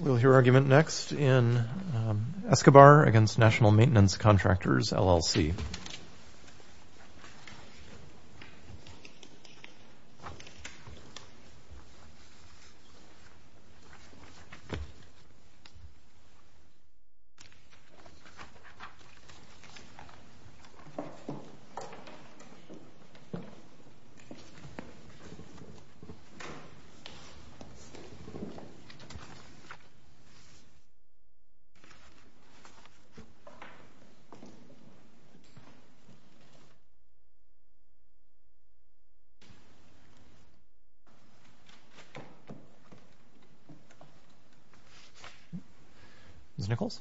We'll hear argument next in Escobar v. Nat'l Mainten. Contractors, LLC Ms. Nichols?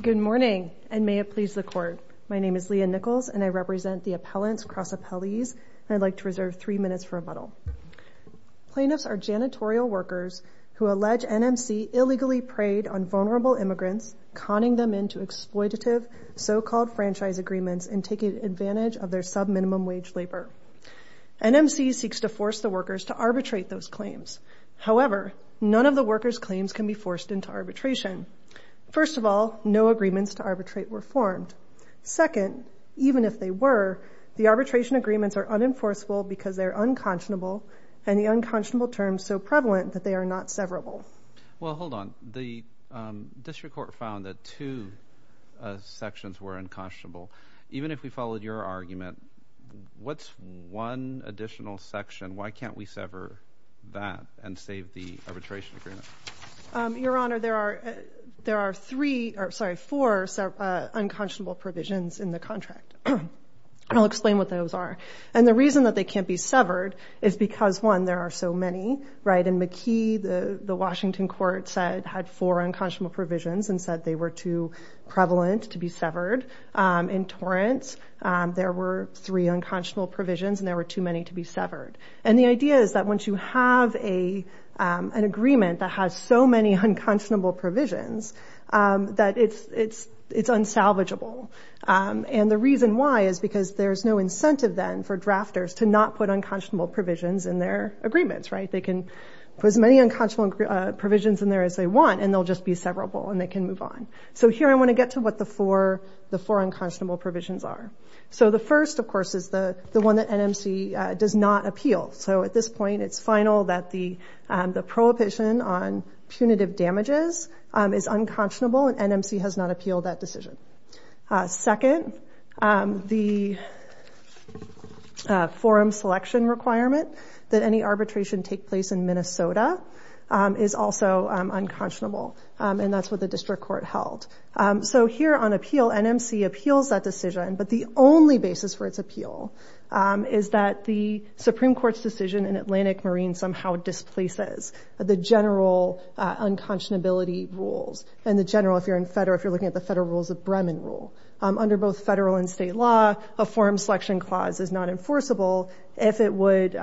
Good morning, and may it please the Court. My name is Leah Nichols, and I represent the Appellants Cross-Appellees, and I'd like to Plaintiffs are janitorial workers who allege NMC illegally preyed on vulnerable immigrants, conning them into exploitative, so-called franchise agreements, and taking advantage of their subminimum wage labor. NMC seeks to force the workers to arbitrate those claims. However, none of the workers' claims can be forced into arbitration. First of all, no agreements to arbitrate were formed. Second, even if they were, the arbitration agreements are unenforceable because they're unconscionable, and the unconscionable term is so prevalent that they are not severable. Well, hold on. The district court found that two sections were unconscionable. Even if we followed your argument, what's one additional section? Why can't we sever that and save the arbitration agreement? Your Honor, there are four unconscionable provisions in the contract, and I'll explain what those are. And the reason that they can't be severed is because, one, there are so many. In McKee, the Washington court had four unconscionable provisions and said they were too prevalent to be severed. In Torrance, there were three unconscionable provisions and there were too many to be severed. And the idea is that once you have an agreement that has so many unconscionable provisions, that it's unsalvageable. And the reason why is because there's no incentive then for drafters to not put unconscionable provisions in their agreements. They can put as many unconscionable provisions in there as they want, and they'll just be severable and they can move on. So here I want to get to what the four unconscionable provisions are. So the first, of course, is the one that NMC does not appeal. So at this point, it's final that the prohibition on punitive damages is unconscionable and NMC has not appealed that decision. Second, the forum selection requirement that any arbitration take place in Minnesota is also unconscionable, and that's what the district court held. So here on appeal, NMC appeals that decision, but the only basis for its appeal is that the Supreme Court's decision in Atlantic Marine somehow displaces the general unconscionability rules and the general, if you're in federal, if you're looking at the federal rules of Bremen rule. Under both federal and state law, a forum selection clause is not enforceable if it would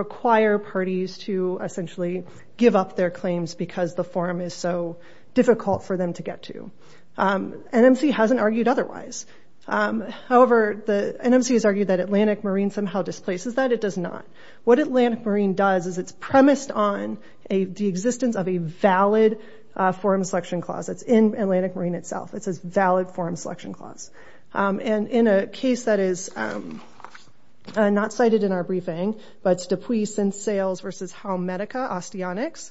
require parties to essentially give up their claims because the forum is so difficult for them to get to. NMC hasn't argued otherwise. However, NMC has argued that Atlantic Marine somehow displaces that. It does not. What Atlantic Marine does is it's premised on the existence of a valid forum selection clause. It's in Atlantic Marine itself. It's a valid forum selection clause. And in a case that is not cited in our briefing, but it's Dupuis and Sales versus Halmedica Osteonics,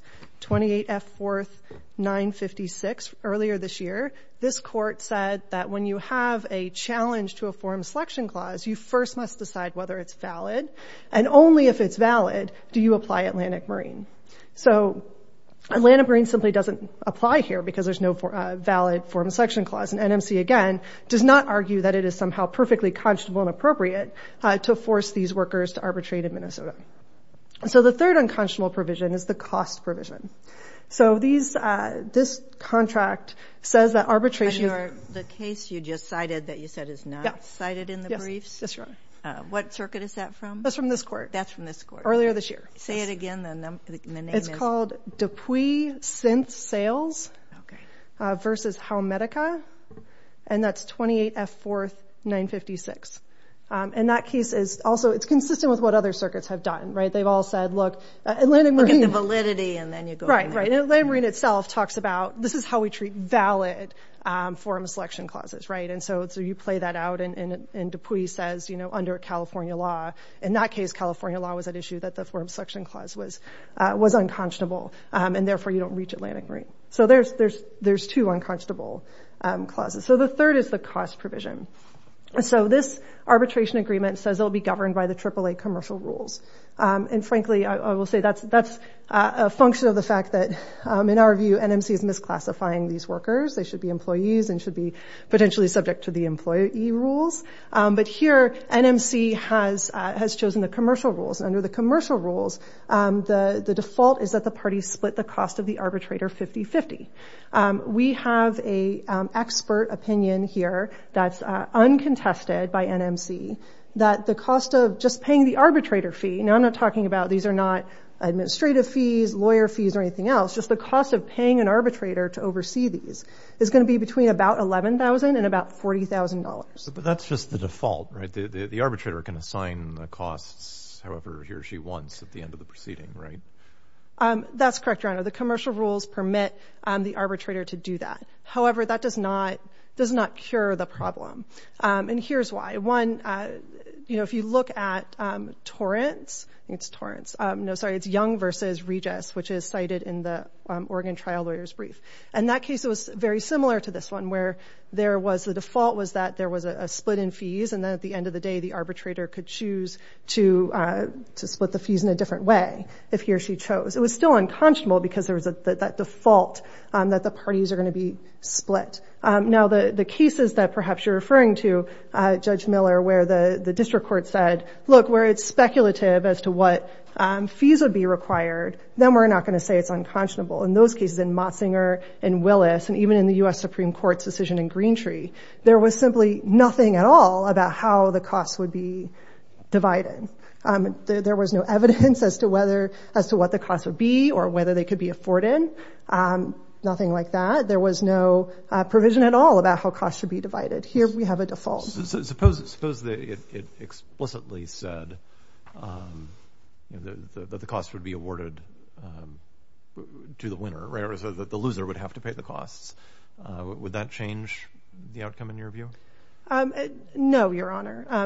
28F4956, earlier this year, this court said that when you have a challenge to a forum selection clause, you first must decide whether it's valid. And only if it's valid do you apply Atlantic Marine. So Atlantic Marine simply doesn't apply here because there's no valid forum selection clause. And NMC, again, does not argue that it is somehow perfectly conscionable and appropriate to force these workers to arbitrate in Minnesota. So the third unconscionable provision is the cost provision. So this contract says that arbitration... But the case you just cited that you said is not cited in the briefs? Yes, that's right. What circuit is that from? That's from this court. That's from this court. Earlier this year. Say it again. The name is... It's called Dupuis Synth Sales versus Halmedica and that's 28F4956. And that case is also... It's consistent with what other circuits have done, right? They've all said, look, Atlantic Marine... Look at the validity and then you go... Right, right. And Atlantic Marine itself talks about, this is how we treat valid forum selection clauses, right? And so you play that out and Dupuis says, under California law, in that case, California law was at issue that the forum selection clause was unconscionable and therefore you don't reach Atlantic Marine. So there's two unconscionable clauses. So the third is the cost provision. So this arbitration agreement says it'll be governed by the AAA commercial rules. And frankly, I will say that's a function of the fact that, in our view, NMC is misclassifying these workers. They should be employees and should be potentially subject to the employee rules. But here, NMC has chosen the commercial rules. Under the commercial rules, the default is that the parties split the cost of the arbitrator 50-50. We have a expert opinion here that's uncontested by NMC that the cost of just paying the arbitrator fee... Now, I'm not talking about... These are not administrative fees, lawyer fees, or anything else. Just the cost of paying an arbitrator to oversee these is going to be between about $11,000 and about $40,000. But that's just the default, right? The arbitrator can assign the costs however he or she wants at the end of the proceeding, right? That's correct, Your Honor. The commercial rules permit the arbitrator to do that. However, that does not cure the problem. And here's why. One, if you look at Torrance... I think it's Torrance. No, sorry. It's Young versus Regis, which is cited in the Oregon trial lawyer's brief. And that case was very similar to this one, where the default was that there was a split in fees, and then at the end of the day, the arbitrator could choose to split the fees in a different way if he or she chose. It was still unconscionable because there was that default that the parties are going to be split. Now, the cases that perhaps you're referring to, Judge Miller, where the district court said, look, where it's speculative as to what fees would be required, then we're not going to say it's unconscionable. In those cases, in Motzinger and Willis, and even in the US Supreme Court's decision in Greentree, there was simply nothing at all about how the costs would be divided. There was no evidence as to what the costs would be or whether they could be afforded. Nothing like that. There was no provision at all about how costs should be divided. Here, we have a default. Suppose it explicitly said that the costs would be awarded to the winner, whereas the loser would have to pay the costs. Would that change the outcome in your view? No, Your Honor. I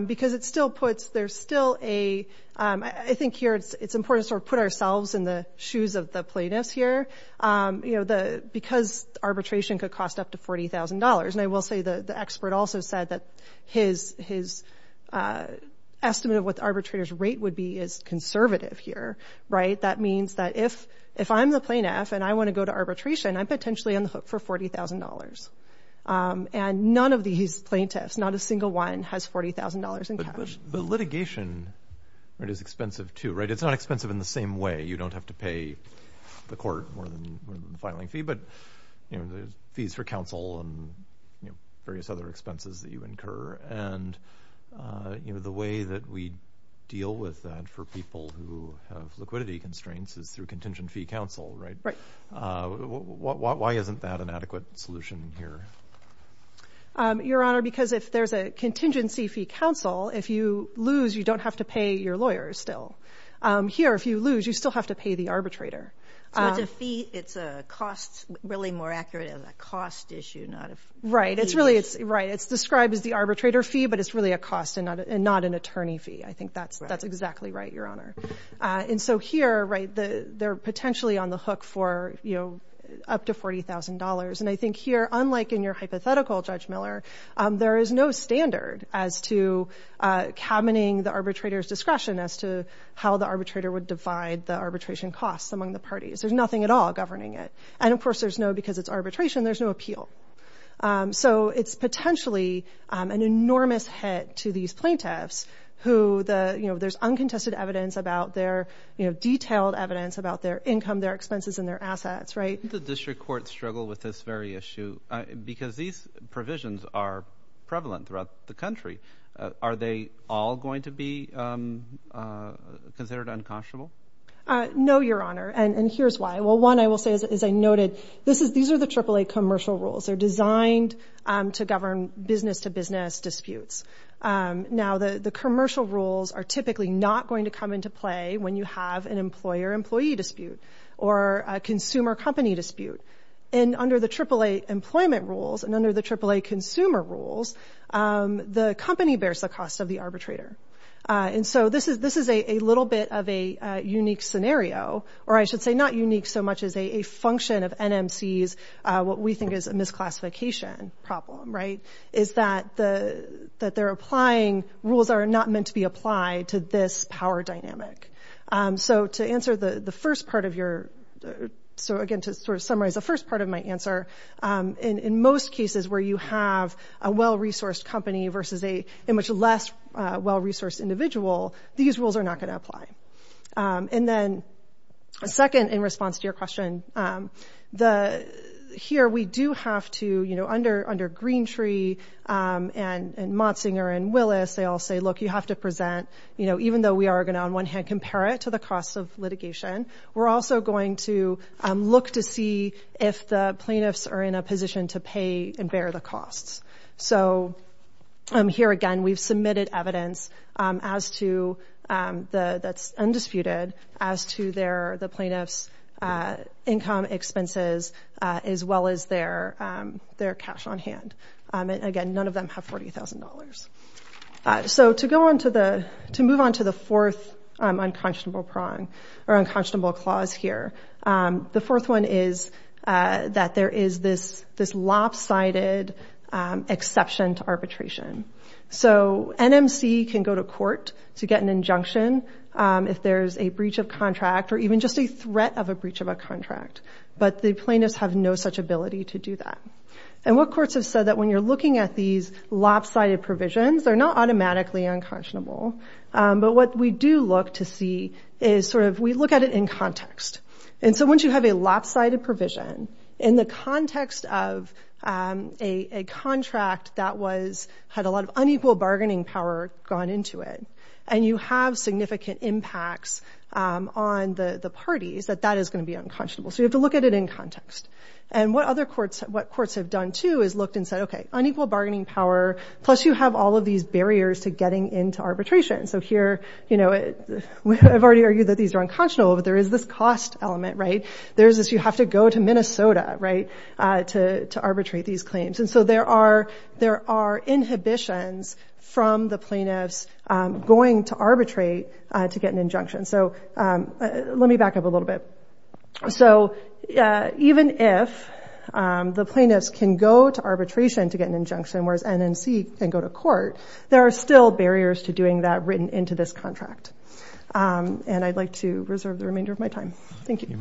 think here it's important to put ourselves in the shoes of the plaintiffs here. Because arbitration could cost up to $40,000, and I will say the expert also said that his estimate of what the arbitrator's rate would be is conservative here. That means that if I'm the plaintiff and I want to go to arbitration, I'm potentially on the hook for $40,000. And none of these plaintiffs, not a single one, has $40,000 in cash. But litigation is expensive too, right? It's not expensive in the same way. You don't have to pay the court more than the filing fee, but the fees for counsel and various other expenses that you incur. And the way that we deal with that for people who have liquidity constraints is through contingent fee counsel, right? Why isn't that an adequate solution here? Your Honor, because if there's a contingency fee counsel, if you lose, you don't have to pay your lawyers still. Here, if you lose, you still have to pay the arbitrator. So it's a fee, it's a cost, really more accurate of a cost issue, not a fee. Right. It's described as the arbitrator fee, but it's really a cost and not an attorney fee. I and so here, right, they're potentially on the hook for, you know, up to $40,000. And I think here, unlike in your hypothetical, Judge Miller, there is no standard as to cabineting the arbitrator's discretion as to how the arbitrator would divide the arbitration costs among the parties. There's nothing at all governing it. And of course, there's no, because it's arbitration, there's no appeal. So it's potentially an enormous hit to these plaintiffs who the, you know, there's uncontested evidence about their, you know, detailed evidence about their income, their expenses and their assets, right? The district courts struggle with this very issue because these provisions are prevalent throughout the country. Are they all going to be considered unconscionable? No, Your Honor. And here's why. Well, one, I will say, as I noted, this is, these are the AAA commercial rules. They're designed to govern business to business disputes. Now, the commercial rules are typically not going to come into play when you have an employer-employee dispute or a consumer-company dispute. And under the AAA employment rules and under the AAA consumer rules, the company bears the cost of the arbitrator. And so this is a little bit of a unique scenario, or I should say not unique so much as a function of NMC's, what we think is a misclassification problem, right? Is that they're applying rules that are not meant to be applied to this power dynamic. So to answer the first part of your, so again, to sort of summarize the first part of my answer, in most cases where you have a well-resourced company versus a much less well-resourced individual, these rules are not going to apply. And then second, in response to your question, the, here we do have to, you know, under, under Greentree and Motzinger and Willis, they all say, look, you have to present, you know, even though we are going to, on one hand, compare it to the cost of litigation, we're also going to look to see if the plaintiffs are in a position to pay and bear the costs. So here again, we've submitted evidence as to the, that's undisputed, as to their, the plaintiff's income expenses, as well as their cash on hand. And again, none of them have $40,000. So to go on to the, to move on to the fourth unconscionable prong, or unconscionable clause here, the fourth one is that there is this, this lopsided exception to arbitration. So NMC can go to court to get an injunction if there's a breach of contract, or even just a threat of a breach of a contract, but the plaintiffs have no such ability to do that. And what courts have said that when you're looking at these lopsided provisions, they're not And so once you have a lopsided provision, in the context of a contract that was, had a lot of unequal bargaining power gone into it, and you have significant impacts on the parties, that that is going to be unconscionable. So you have to look at it in context. And what other courts, what courts have done too, is looked and said, okay, unequal bargaining power, plus you have all of these barriers to getting into arbitration. So here, you know, I've already argued that these are unconscionable, but there is this cost element, right? There's this, you have to go to Minnesota, right, to arbitrate these claims. And so there are inhibitions from the plaintiffs going to arbitrate to get an injunction. So let me back up a little bit. So even if the plaintiffs can go to arbitration to get an this contract. And I'd like to reserve the remainder of my time. Thank you.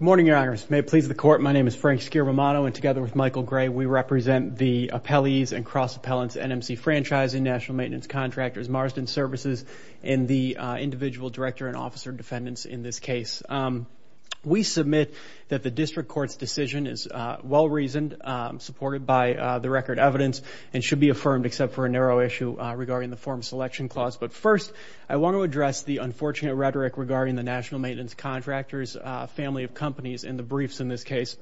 Good morning, Your Honors. May it please the Court, my name is Frank Skier-Romano, and together with Michael Gray, we represent the appellees and cross-appellants, NMC franchising, national maintenance contractors, Marsden services, and the individual director and we submit that the district court's decision is well-reasoned, supported by the record evidence, and should be affirmed except for a narrow issue regarding the form selection clause. But first, I want to address the unfortunate rhetoric regarding the national maintenance contractors family of companies in the briefs in this case.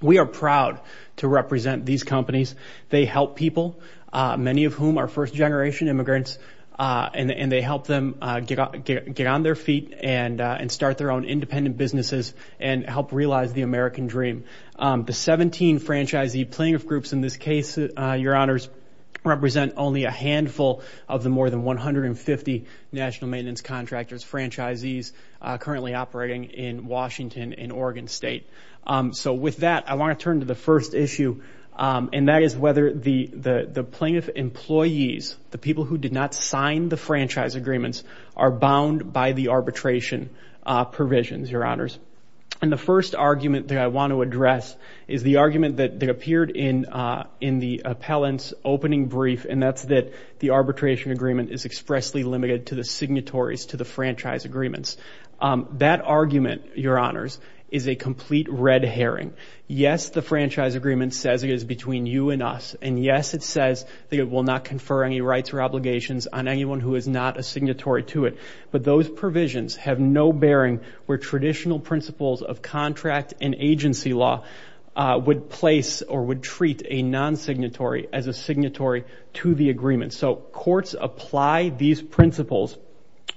We are proud to represent these companies. They help people, many of whom are first generation immigrants, and they help them get on their feet and start their own independent businesses and help realize the American dream. The 17 franchisee plaintiff groups in this case, Your Honors, represent only a handful of the more than 150 national maintenance contractors, franchisees, currently operating in Washington and Oregon State. So with that, I want to turn to the first issue, and that is whether the plaintiff employees, the people who did not sign the franchise agreements, are bound by the arbitration provisions, Your Honors. And the first argument that I want to address is the argument that appeared in the appellant's opening brief, and that's that the arbitration agreement is expressly limited to the signatories to the franchise agreements. That argument, Your Honors, is a complete red herring. Yes, the franchise agreement says it is between you and us, and yes, it says that it will not confer any rights or obligations on anyone who is not a signatory to it. But those provisions have no bearing where traditional principles of contract and agency law would place or would treat a non-signatory as a signatory to the agreement. So courts apply these principles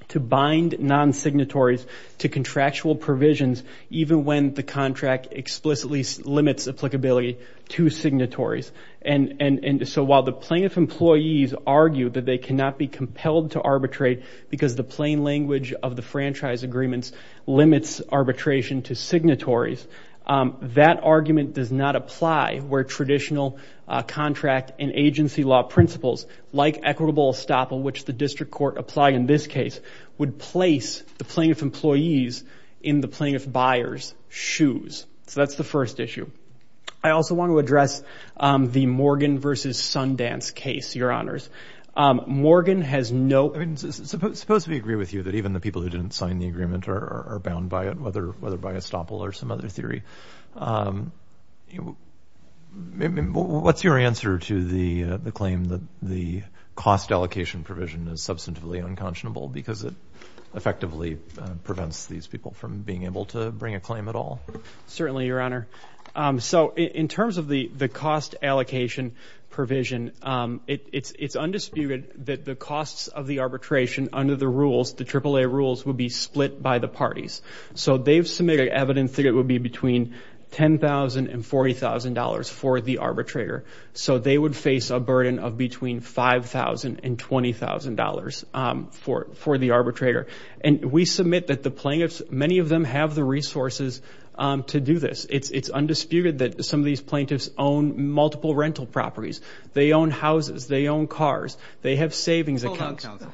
to bind non-signatories to contractual provisions, even when the contract explicitly limits applicability to signatories. And so while the plaintiff employees argue that they cannot be compelled to arbitrate because the plain language of the franchise agreements limits arbitration to signatories, that argument does not apply where traditional contract and agency law principles, like equitable estoppel, which the district court applied in this case, would place the plaintiff employees in the plaintiff buyer's shoes. So that's the first issue. I also want to address the Morgan versus Sundance case, Your Honors. Morgan has no... I mean, suppose we agree with you that even the people who didn't sign the agreement are bound by it, whether by estoppel or some other theory. What's your answer to the claim that the cost allocation provision is substantively unconscionable because it effectively prevents these people from being able to bring a claim at all? Certainly, Your Honor. So in terms of the cost allocation provision, it's undisputed that the costs of the arbitration under the rules, the AAA rules, would be split by the parties. So they've submitted evidence that it would be between $10,000 and $40,000 for the arbitrator. So they would face a burden of between $5,000 and $20,000 for the arbitrator. And we submit that the plaintiffs, many of them have the resources to do this. It's undisputed that some of these plaintiffs own multiple rental properties. They own houses. They own cars. They have savings accounts. Hold on, counsel.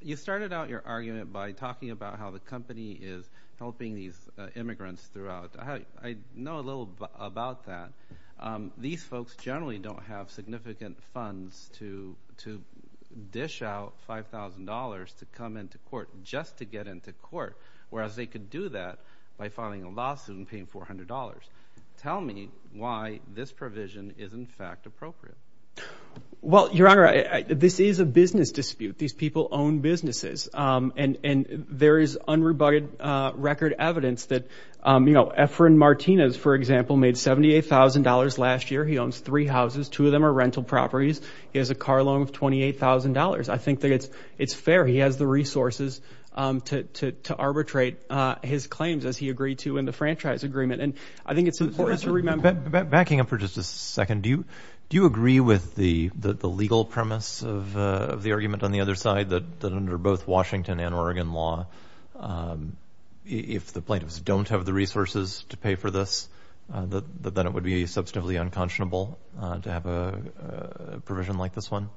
You started out your argument by talking about how the company is helping these immigrants throughout. I know a little about that. These folks generally don't have significant funds to dish out $5,000 to come into court just to get into court, whereas they could do that by filing a lawsuit and paying $400. Tell me why this provision is, in fact, appropriate. Well, Your Honor, this is a business dispute. These people own businesses. And there is unrebutted record evidence that Efren Martinez, for example, made $78,000 last year. He owns three houses. Two of them are rental properties. He has a car loan of $28,000. I think that it's fair. He has the resources to arbitrate his claims as he agreed to in the franchise agreement. I think it's important to remember... Backing up for just a second, do you agree with the legal premise of the argument on the other side that under both Washington and Oregon law, if the plaintiffs don't have the resources to pay for this, that it would be substantively unconscionable to have a provision like this one?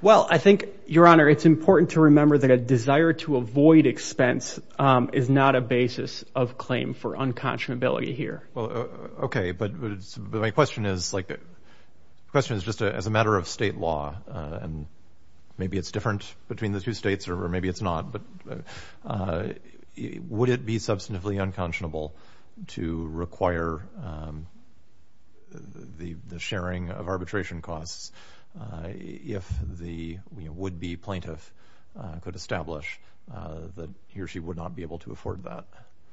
Well, I think, Your Honor, it's important to remember that a desire to avoid expense is not a basis of claim for unconscionability here. Well, okay. But my question is just as a matter of state law, and maybe it's different between the two states or maybe it's not, but would it be substantively unconscionable to require the sharing of arbitration costs if the would-be plaintiff could establish that he or she would not be able to afford that?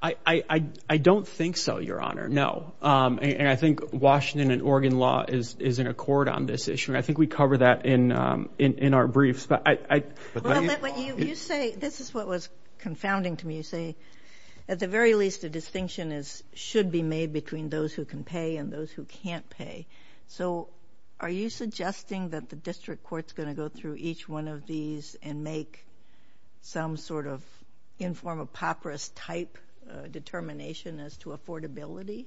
I don't think so, Your Honor, no. And I think Washington and Oregon law is in accord on this issue, and I think we cover that in our briefs, but I... Well, you say... This is what was confounding to me. You say, at the very least, a distinction should be made between those who can pay and those who can't pay. So, are you suggesting that the district court's going to go through each one of these and make some sort of inform-a-popris type determination as to affordability?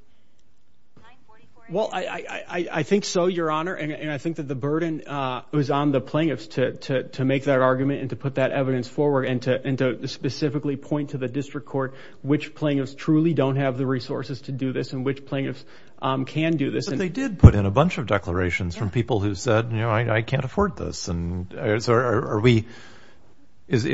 Well, I think so, Your Honor, and I think that the burden was on the plaintiffs to make that argument and to put that evidence forward and to specifically point to the district court which plaintiffs truly don't have the resources to do this and which plaintiffs can do this. But they did put in a bunch of declarations from people who said, you know, I can't afford this, and so are we...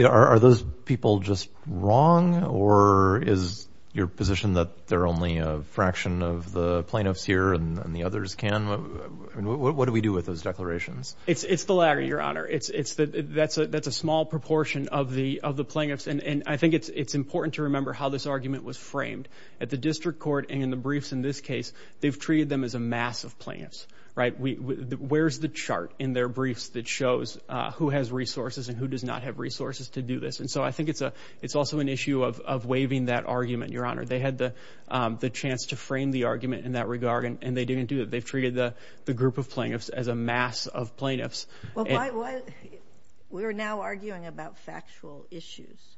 Are those people just wrong, or is your position that they're only a fraction of the plaintiffs here and the others can? What do we do with those declarations? It's the latter, Your Honor. That's a small proportion of the plaintiffs, and I think it's important to remember how this argument was framed. At the district court and in the briefs in this case, they've treated them as a mass of plaintiffs, right? Where's the chart in their who has resources and who does not have resources to do this? And so I think it's also an issue of waiving that argument, Your Honor. They had the chance to frame the argument in that regard, and they didn't do it. They've treated the group of plaintiffs as a mass of plaintiffs. Well, we're now arguing about factual issues,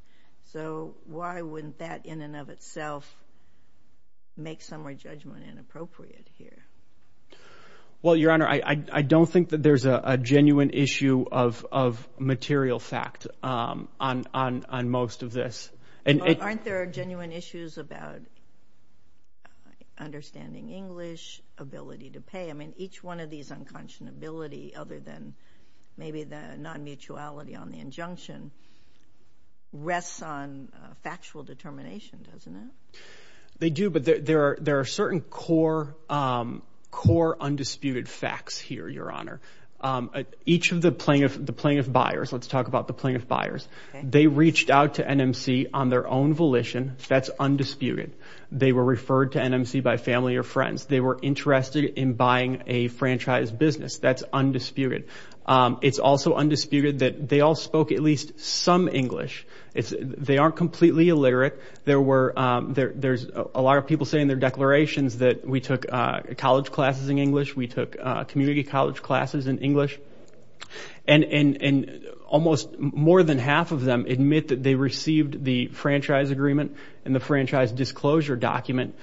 so why wouldn't that in and of itself make summary judgment inappropriate here? Well, Your Honor, I don't think that there's a genuine issue of material fact on most of this. Aren't there genuine issues about understanding English, ability to pay? I mean, each one of these unconscionability, other than maybe the non-mutuality on the injunction, rests on factual determination, doesn't it? They do, but there are certain core undisputed facts here, Your Honor. Each of the plaintiff buyers, let's talk about the plaintiff buyers, they reached out to NMC on their own volition. That's undisputed. They were referred to NMC by family or friends. They were interested in buying a franchise business. That's undisputed. It's also undisputed that they all spoke at least some English. They aren't completely illiterate. There's a lot of people saying in their declarations that we took college classes in English. We took community college classes in English. Almost more than half of them admit that they received the franchise agreement and the franchise disclosure document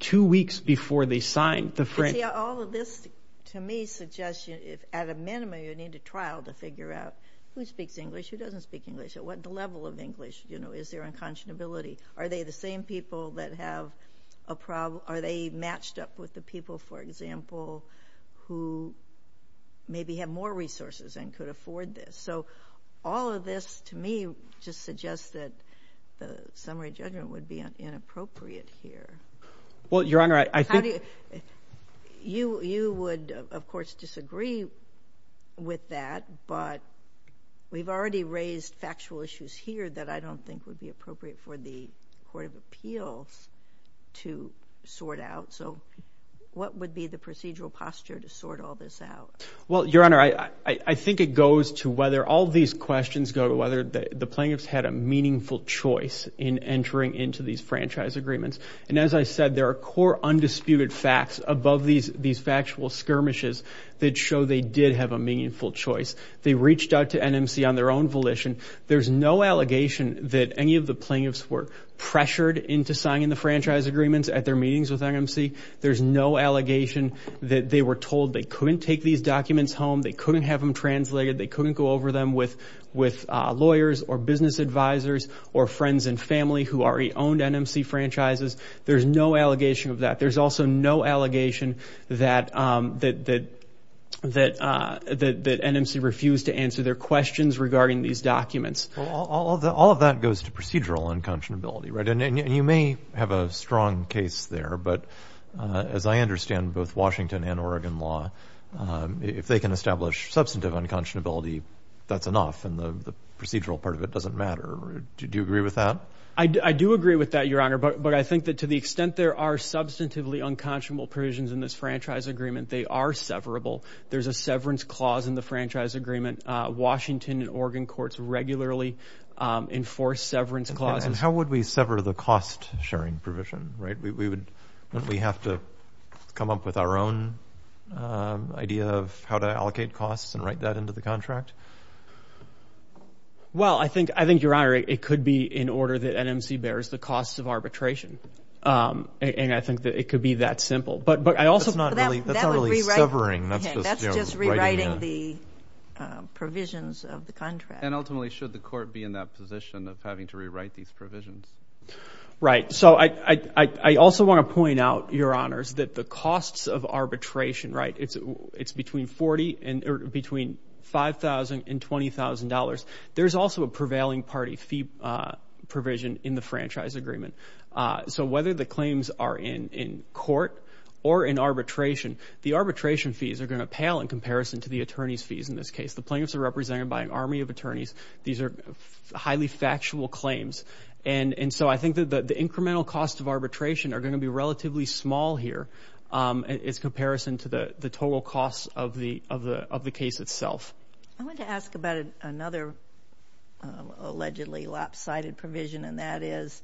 two weeks before they signed the franchise. All of this, to me, suggests at a minimum, you need a trial to figure out who speaks English, who doesn't speak English, at what level of English is there unconscionability? Are they the same people that have a problem? Are they matched up with the people, for example, who maybe have more resources and could afford this? All of this, to me, just suggests that the summary judgment would be inappropriate here. Well, Your Honor, I think... How do you... You would, of course, disagree with that, but we've already raised factual issues here that I don't think would be appropriate for the Court of Appeals to sort out. What would be the procedural posture to sort all this out? Well, Your Honor, I think it goes to whether all these questions go to whether the plaintiffs had a meaningful choice in entering into these franchise agreements. And as I said, there are core undisputed facts above these factual skirmishes that show they did have a meaningful choice. They reached out to NMC on their own volition. There's no allegation that any of the plaintiffs were pressured into signing the franchise agreements at their meetings with NMC. There's no allegation that they were told they couldn't take these documents home, they couldn't have them translated, they couldn't go over them with lawyers or business advisors or friends and family who already owned NMC franchises. There's no allegation of that. There's also no allegation that NMC refused to answer their questions regarding these documents. All of that goes to procedural unconscionability, right? And you may have a strong case there, but as I understand both Washington and Oregon law, if they can establish substantive unconscionability, that's enough and the procedural part of it doesn't matter. Do you agree with that? I do agree with that, Your Honor. But I think that to the extent there are substantively unconscionable provisions in this franchise agreement, they are severable. There's a severance clause in the franchise agreement. Washington and Oregon courts regularly enforce severance clauses. And how would we sever the cost-sharing provision, right? Wouldn't we have to come up with our own idea of how to allocate costs and write that into the contract? Well, I think, Your Honor, it could be in order that NMC bears the costs of arbitration, and I think that it could be that simple. But I also... That's not really severing. That's just rewriting the provisions of the contract. And ultimately, should the court be in that position of having to rewrite these provisions? Right. So I also want to point out, Your Honors, that the costs of arbitration, right, it's between $5,000 and $20,000. There's also a prevailing party fee provision in the franchise agreement. So whether the claims are in court or in arbitration, the arbitration fees are going to pale in comparison to the attorney's fees in this case. The plaintiffs are represented by an army of attorneys. These are highly factual claims. And so I think that the incremental costs of arbitration are going to be relatively small here in comparison to the total costs of the case itself. I want to ask about another allegedly lopsided provision, and that is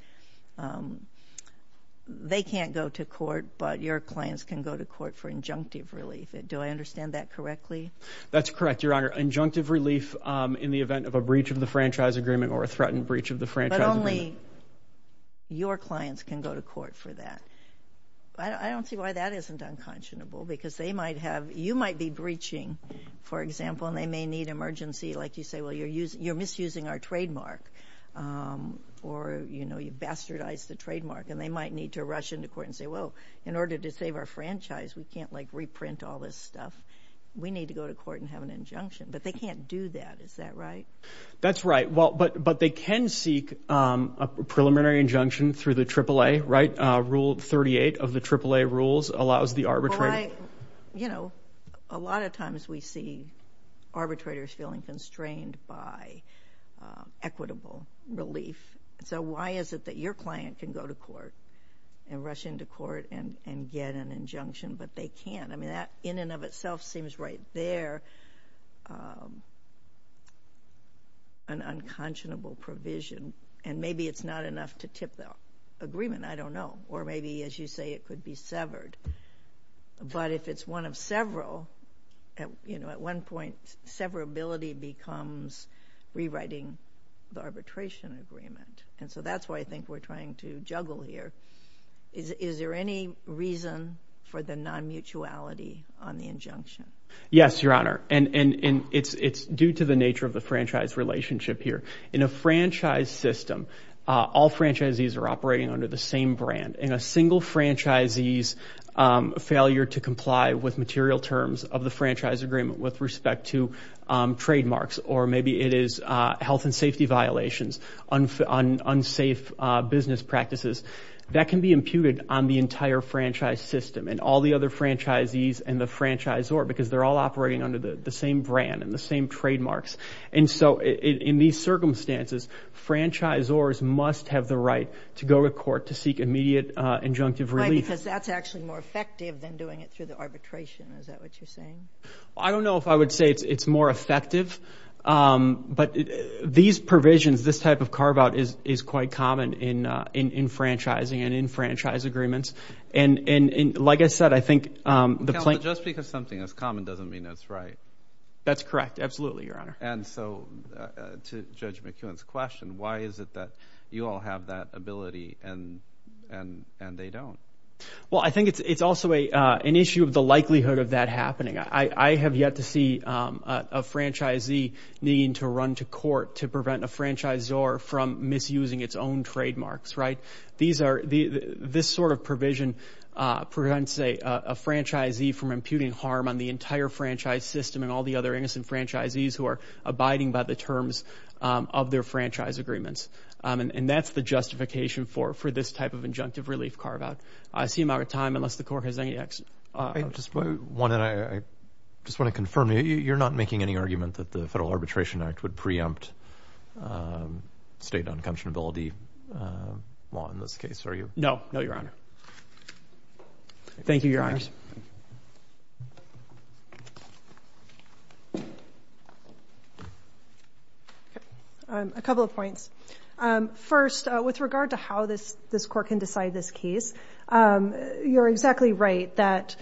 they can't go to court, but your clients can go to court for injunctive relief. Do I understand that correctly? That's correct, Your Honor. Injunctive relief in the event of a breach of the franchise agreement or a threatened breach of the franchise agreement. But only your clients can go to court for that. I don't see why that isn't unconscionable, because they might have, you might be breaching, for example, and they may need emergency. Like you say, well, you're misusing our trademark or, you know, you bastardized the trademark. And they might need to rush into court and say, well, in order to save our franchise, we can't, like, reprint all this stuff. We need to go to court and have an injunction. But they can't do that. Is that right? That's right. Well, but they can seek a preliminary injunction through the AAA, right? Rule 38 of the AAA rules allows the arbitrator. You know, a lot of times we see arbitrators feeling constrained by equitable relief. So why is it that your client can go to court and rush into court and get an injunction, but they can't? I mean, that in and of itself seems right there an unconscionable provision. And maybe it's not enough to tip that agreement. I don't know. Or maybe, as you say, it could be severed. But if it's one of several, you know, at one point severability becomes rewriting the arbitration agreement. And so that's why I think we're trying to juggle here. Is there any reason for the non-mutuality on the injunction? Yes, Your Honor. And it's due to the nature of the franchise relationship here. In a franchise system, all franchisees are operating under the same brand. In a single franchisee's failure to comply with material terms of the franchise agreement with respect to health and safety violations, unsafe business practices, that can be imputed on the entire franchise system and all the other franchisees and the franchisor because they're all operating under the same brand and the same trademarks. And so in these circumstances, franchisors must have the right to go to court to seek immediate injunctive relief. Right, because that's actually more effective than doing it through the arbitration. Is that what you're saying? Well, I don't know if I would say it's more effective, but these provisions, this type of carve-out is quite common in franchising and in franchise agreements. And like I said, I think the plaintiff- Counselor, just because something is common doesn't mean it's right. That's correct. Absolutely, Your Honor. And so to Judge McEwen's question, why is it that you all have that ability and they don't? Well, I think it's also an issue of the likelihood of that happening. I have yet to see a franchisee needing to run to court to prevent a franchisor from misusing its own trademarks, right? This sort of provision prevents a franchisee from imputing harm on the entire franchise system and all the other innocent franchisees who are abiding by the terms of their franchise agreements. And that's the justification for this type of injunctive relief carve-out. I see him out of time, unless the Court has any action. I just want to confirm, you're not making any argument that the Federal Arbitration Act would preempt state unconscionability law in this case, are you? No. No, Your Honor. Thank you, Your Honors. A couple of points. First, with regard to how this Court can decide this case, you're exactly right that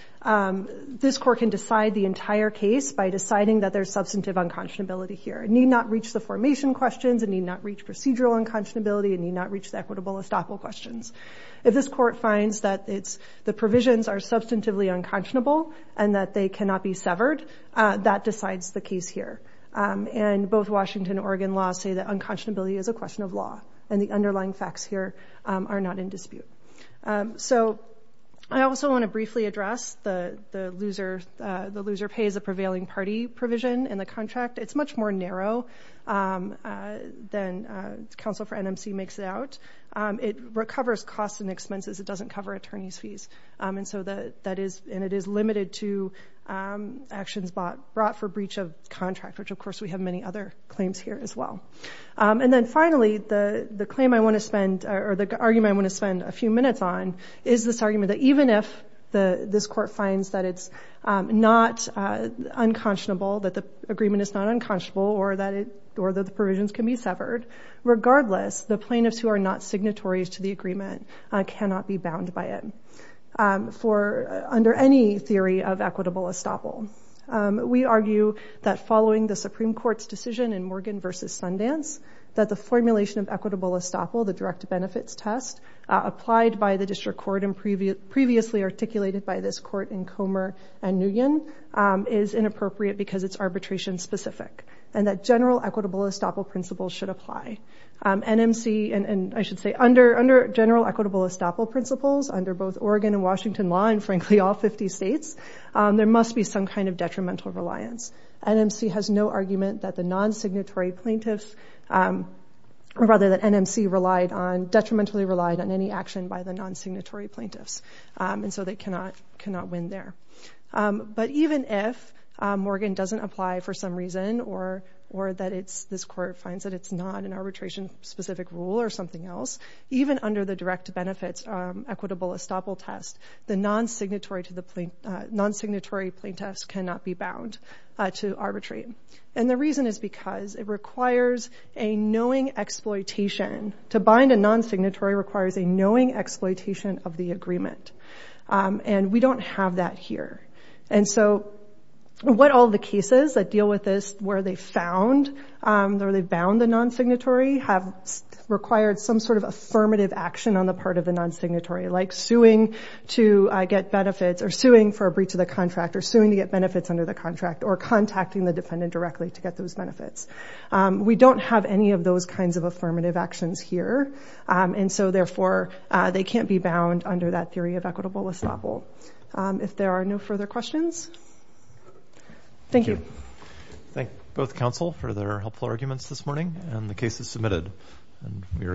this Court can decide the entire case by deciding that there's substantive unconscionability here. It need not reach the formation questions, it need not reach procedural unconscionability, it need not reach the equitable estoppel questions. If this Court finds that the provisions are substantively unconscionable and that they cannot be severed, that decides the case here. And both Washington and Oregon law say that unconscionability is a So, I also want to briefly address the loser-pay-as-a-prevailing-party provision in the contract. It's much more narrow than counsel for NMC makes it out. It recovers costs and expenses, it doesn't cover attorney's fees. And it is limited to actions brought for breach of contract, which of course we have many other claims here as well. And then finally, the argument I want to a few minutes on is this argument that even if this Court finds that it's not unconscionable, that the agreement is not unconscionable or that the provisions can be severed, regardless, the plaintiffs who are not signatories to the agreement cannot be bound by it under any theory of equitable estoppel. We argue that following the Supreme Court's decision in Morgan v. Sundance that the formulation of equitable estoppel, the direct benefits test, applied by the District Court and previously articulated by this Court in Comer and Nguyen, is inappropriate because it's arbitration specific. And that general equitable estoppel principles should apply. NMC, and I should say, under general equitable estoppel principles, under both Oregon and Washington law, and frankly all 50 states, there must be some kind of detrimental reliance. NMC has no argument that the non-signatory plaintiffs, or rather that NMC, detrimentally relied on any action by the non-signatory plaintiffs. And so they cannot win there. But even if Morgan doesn't apply for some reason or that this Court finds that it's not an arbitration specific rule or something else, even under the direct benefits equitable estoppel test, the non-signatory plaintiffs cannot be bound to arbitrate. And the reason is because it requires a knowing exploitation. To bind a non-signatory requires a knowing exploitation of the agreement. And we don't have that here. And so what all the cases that deal with this, where they found or they bound the non-signatory, have required some sort of affirmative action on the part of the non-signatory, like suing to get benefits, or suing for a breach of the contract, or suing to get benefits under the contract, or contacting the defendant directly to get those benefits. We don't have any of those kinds of affirmative actions here. And so therefore they can't be bound under that theory of equitable estoppel. If there are no further questions. Thank you. Thank both counsel for their helpful arguments this morning. And the case is submitted and we are adjourned.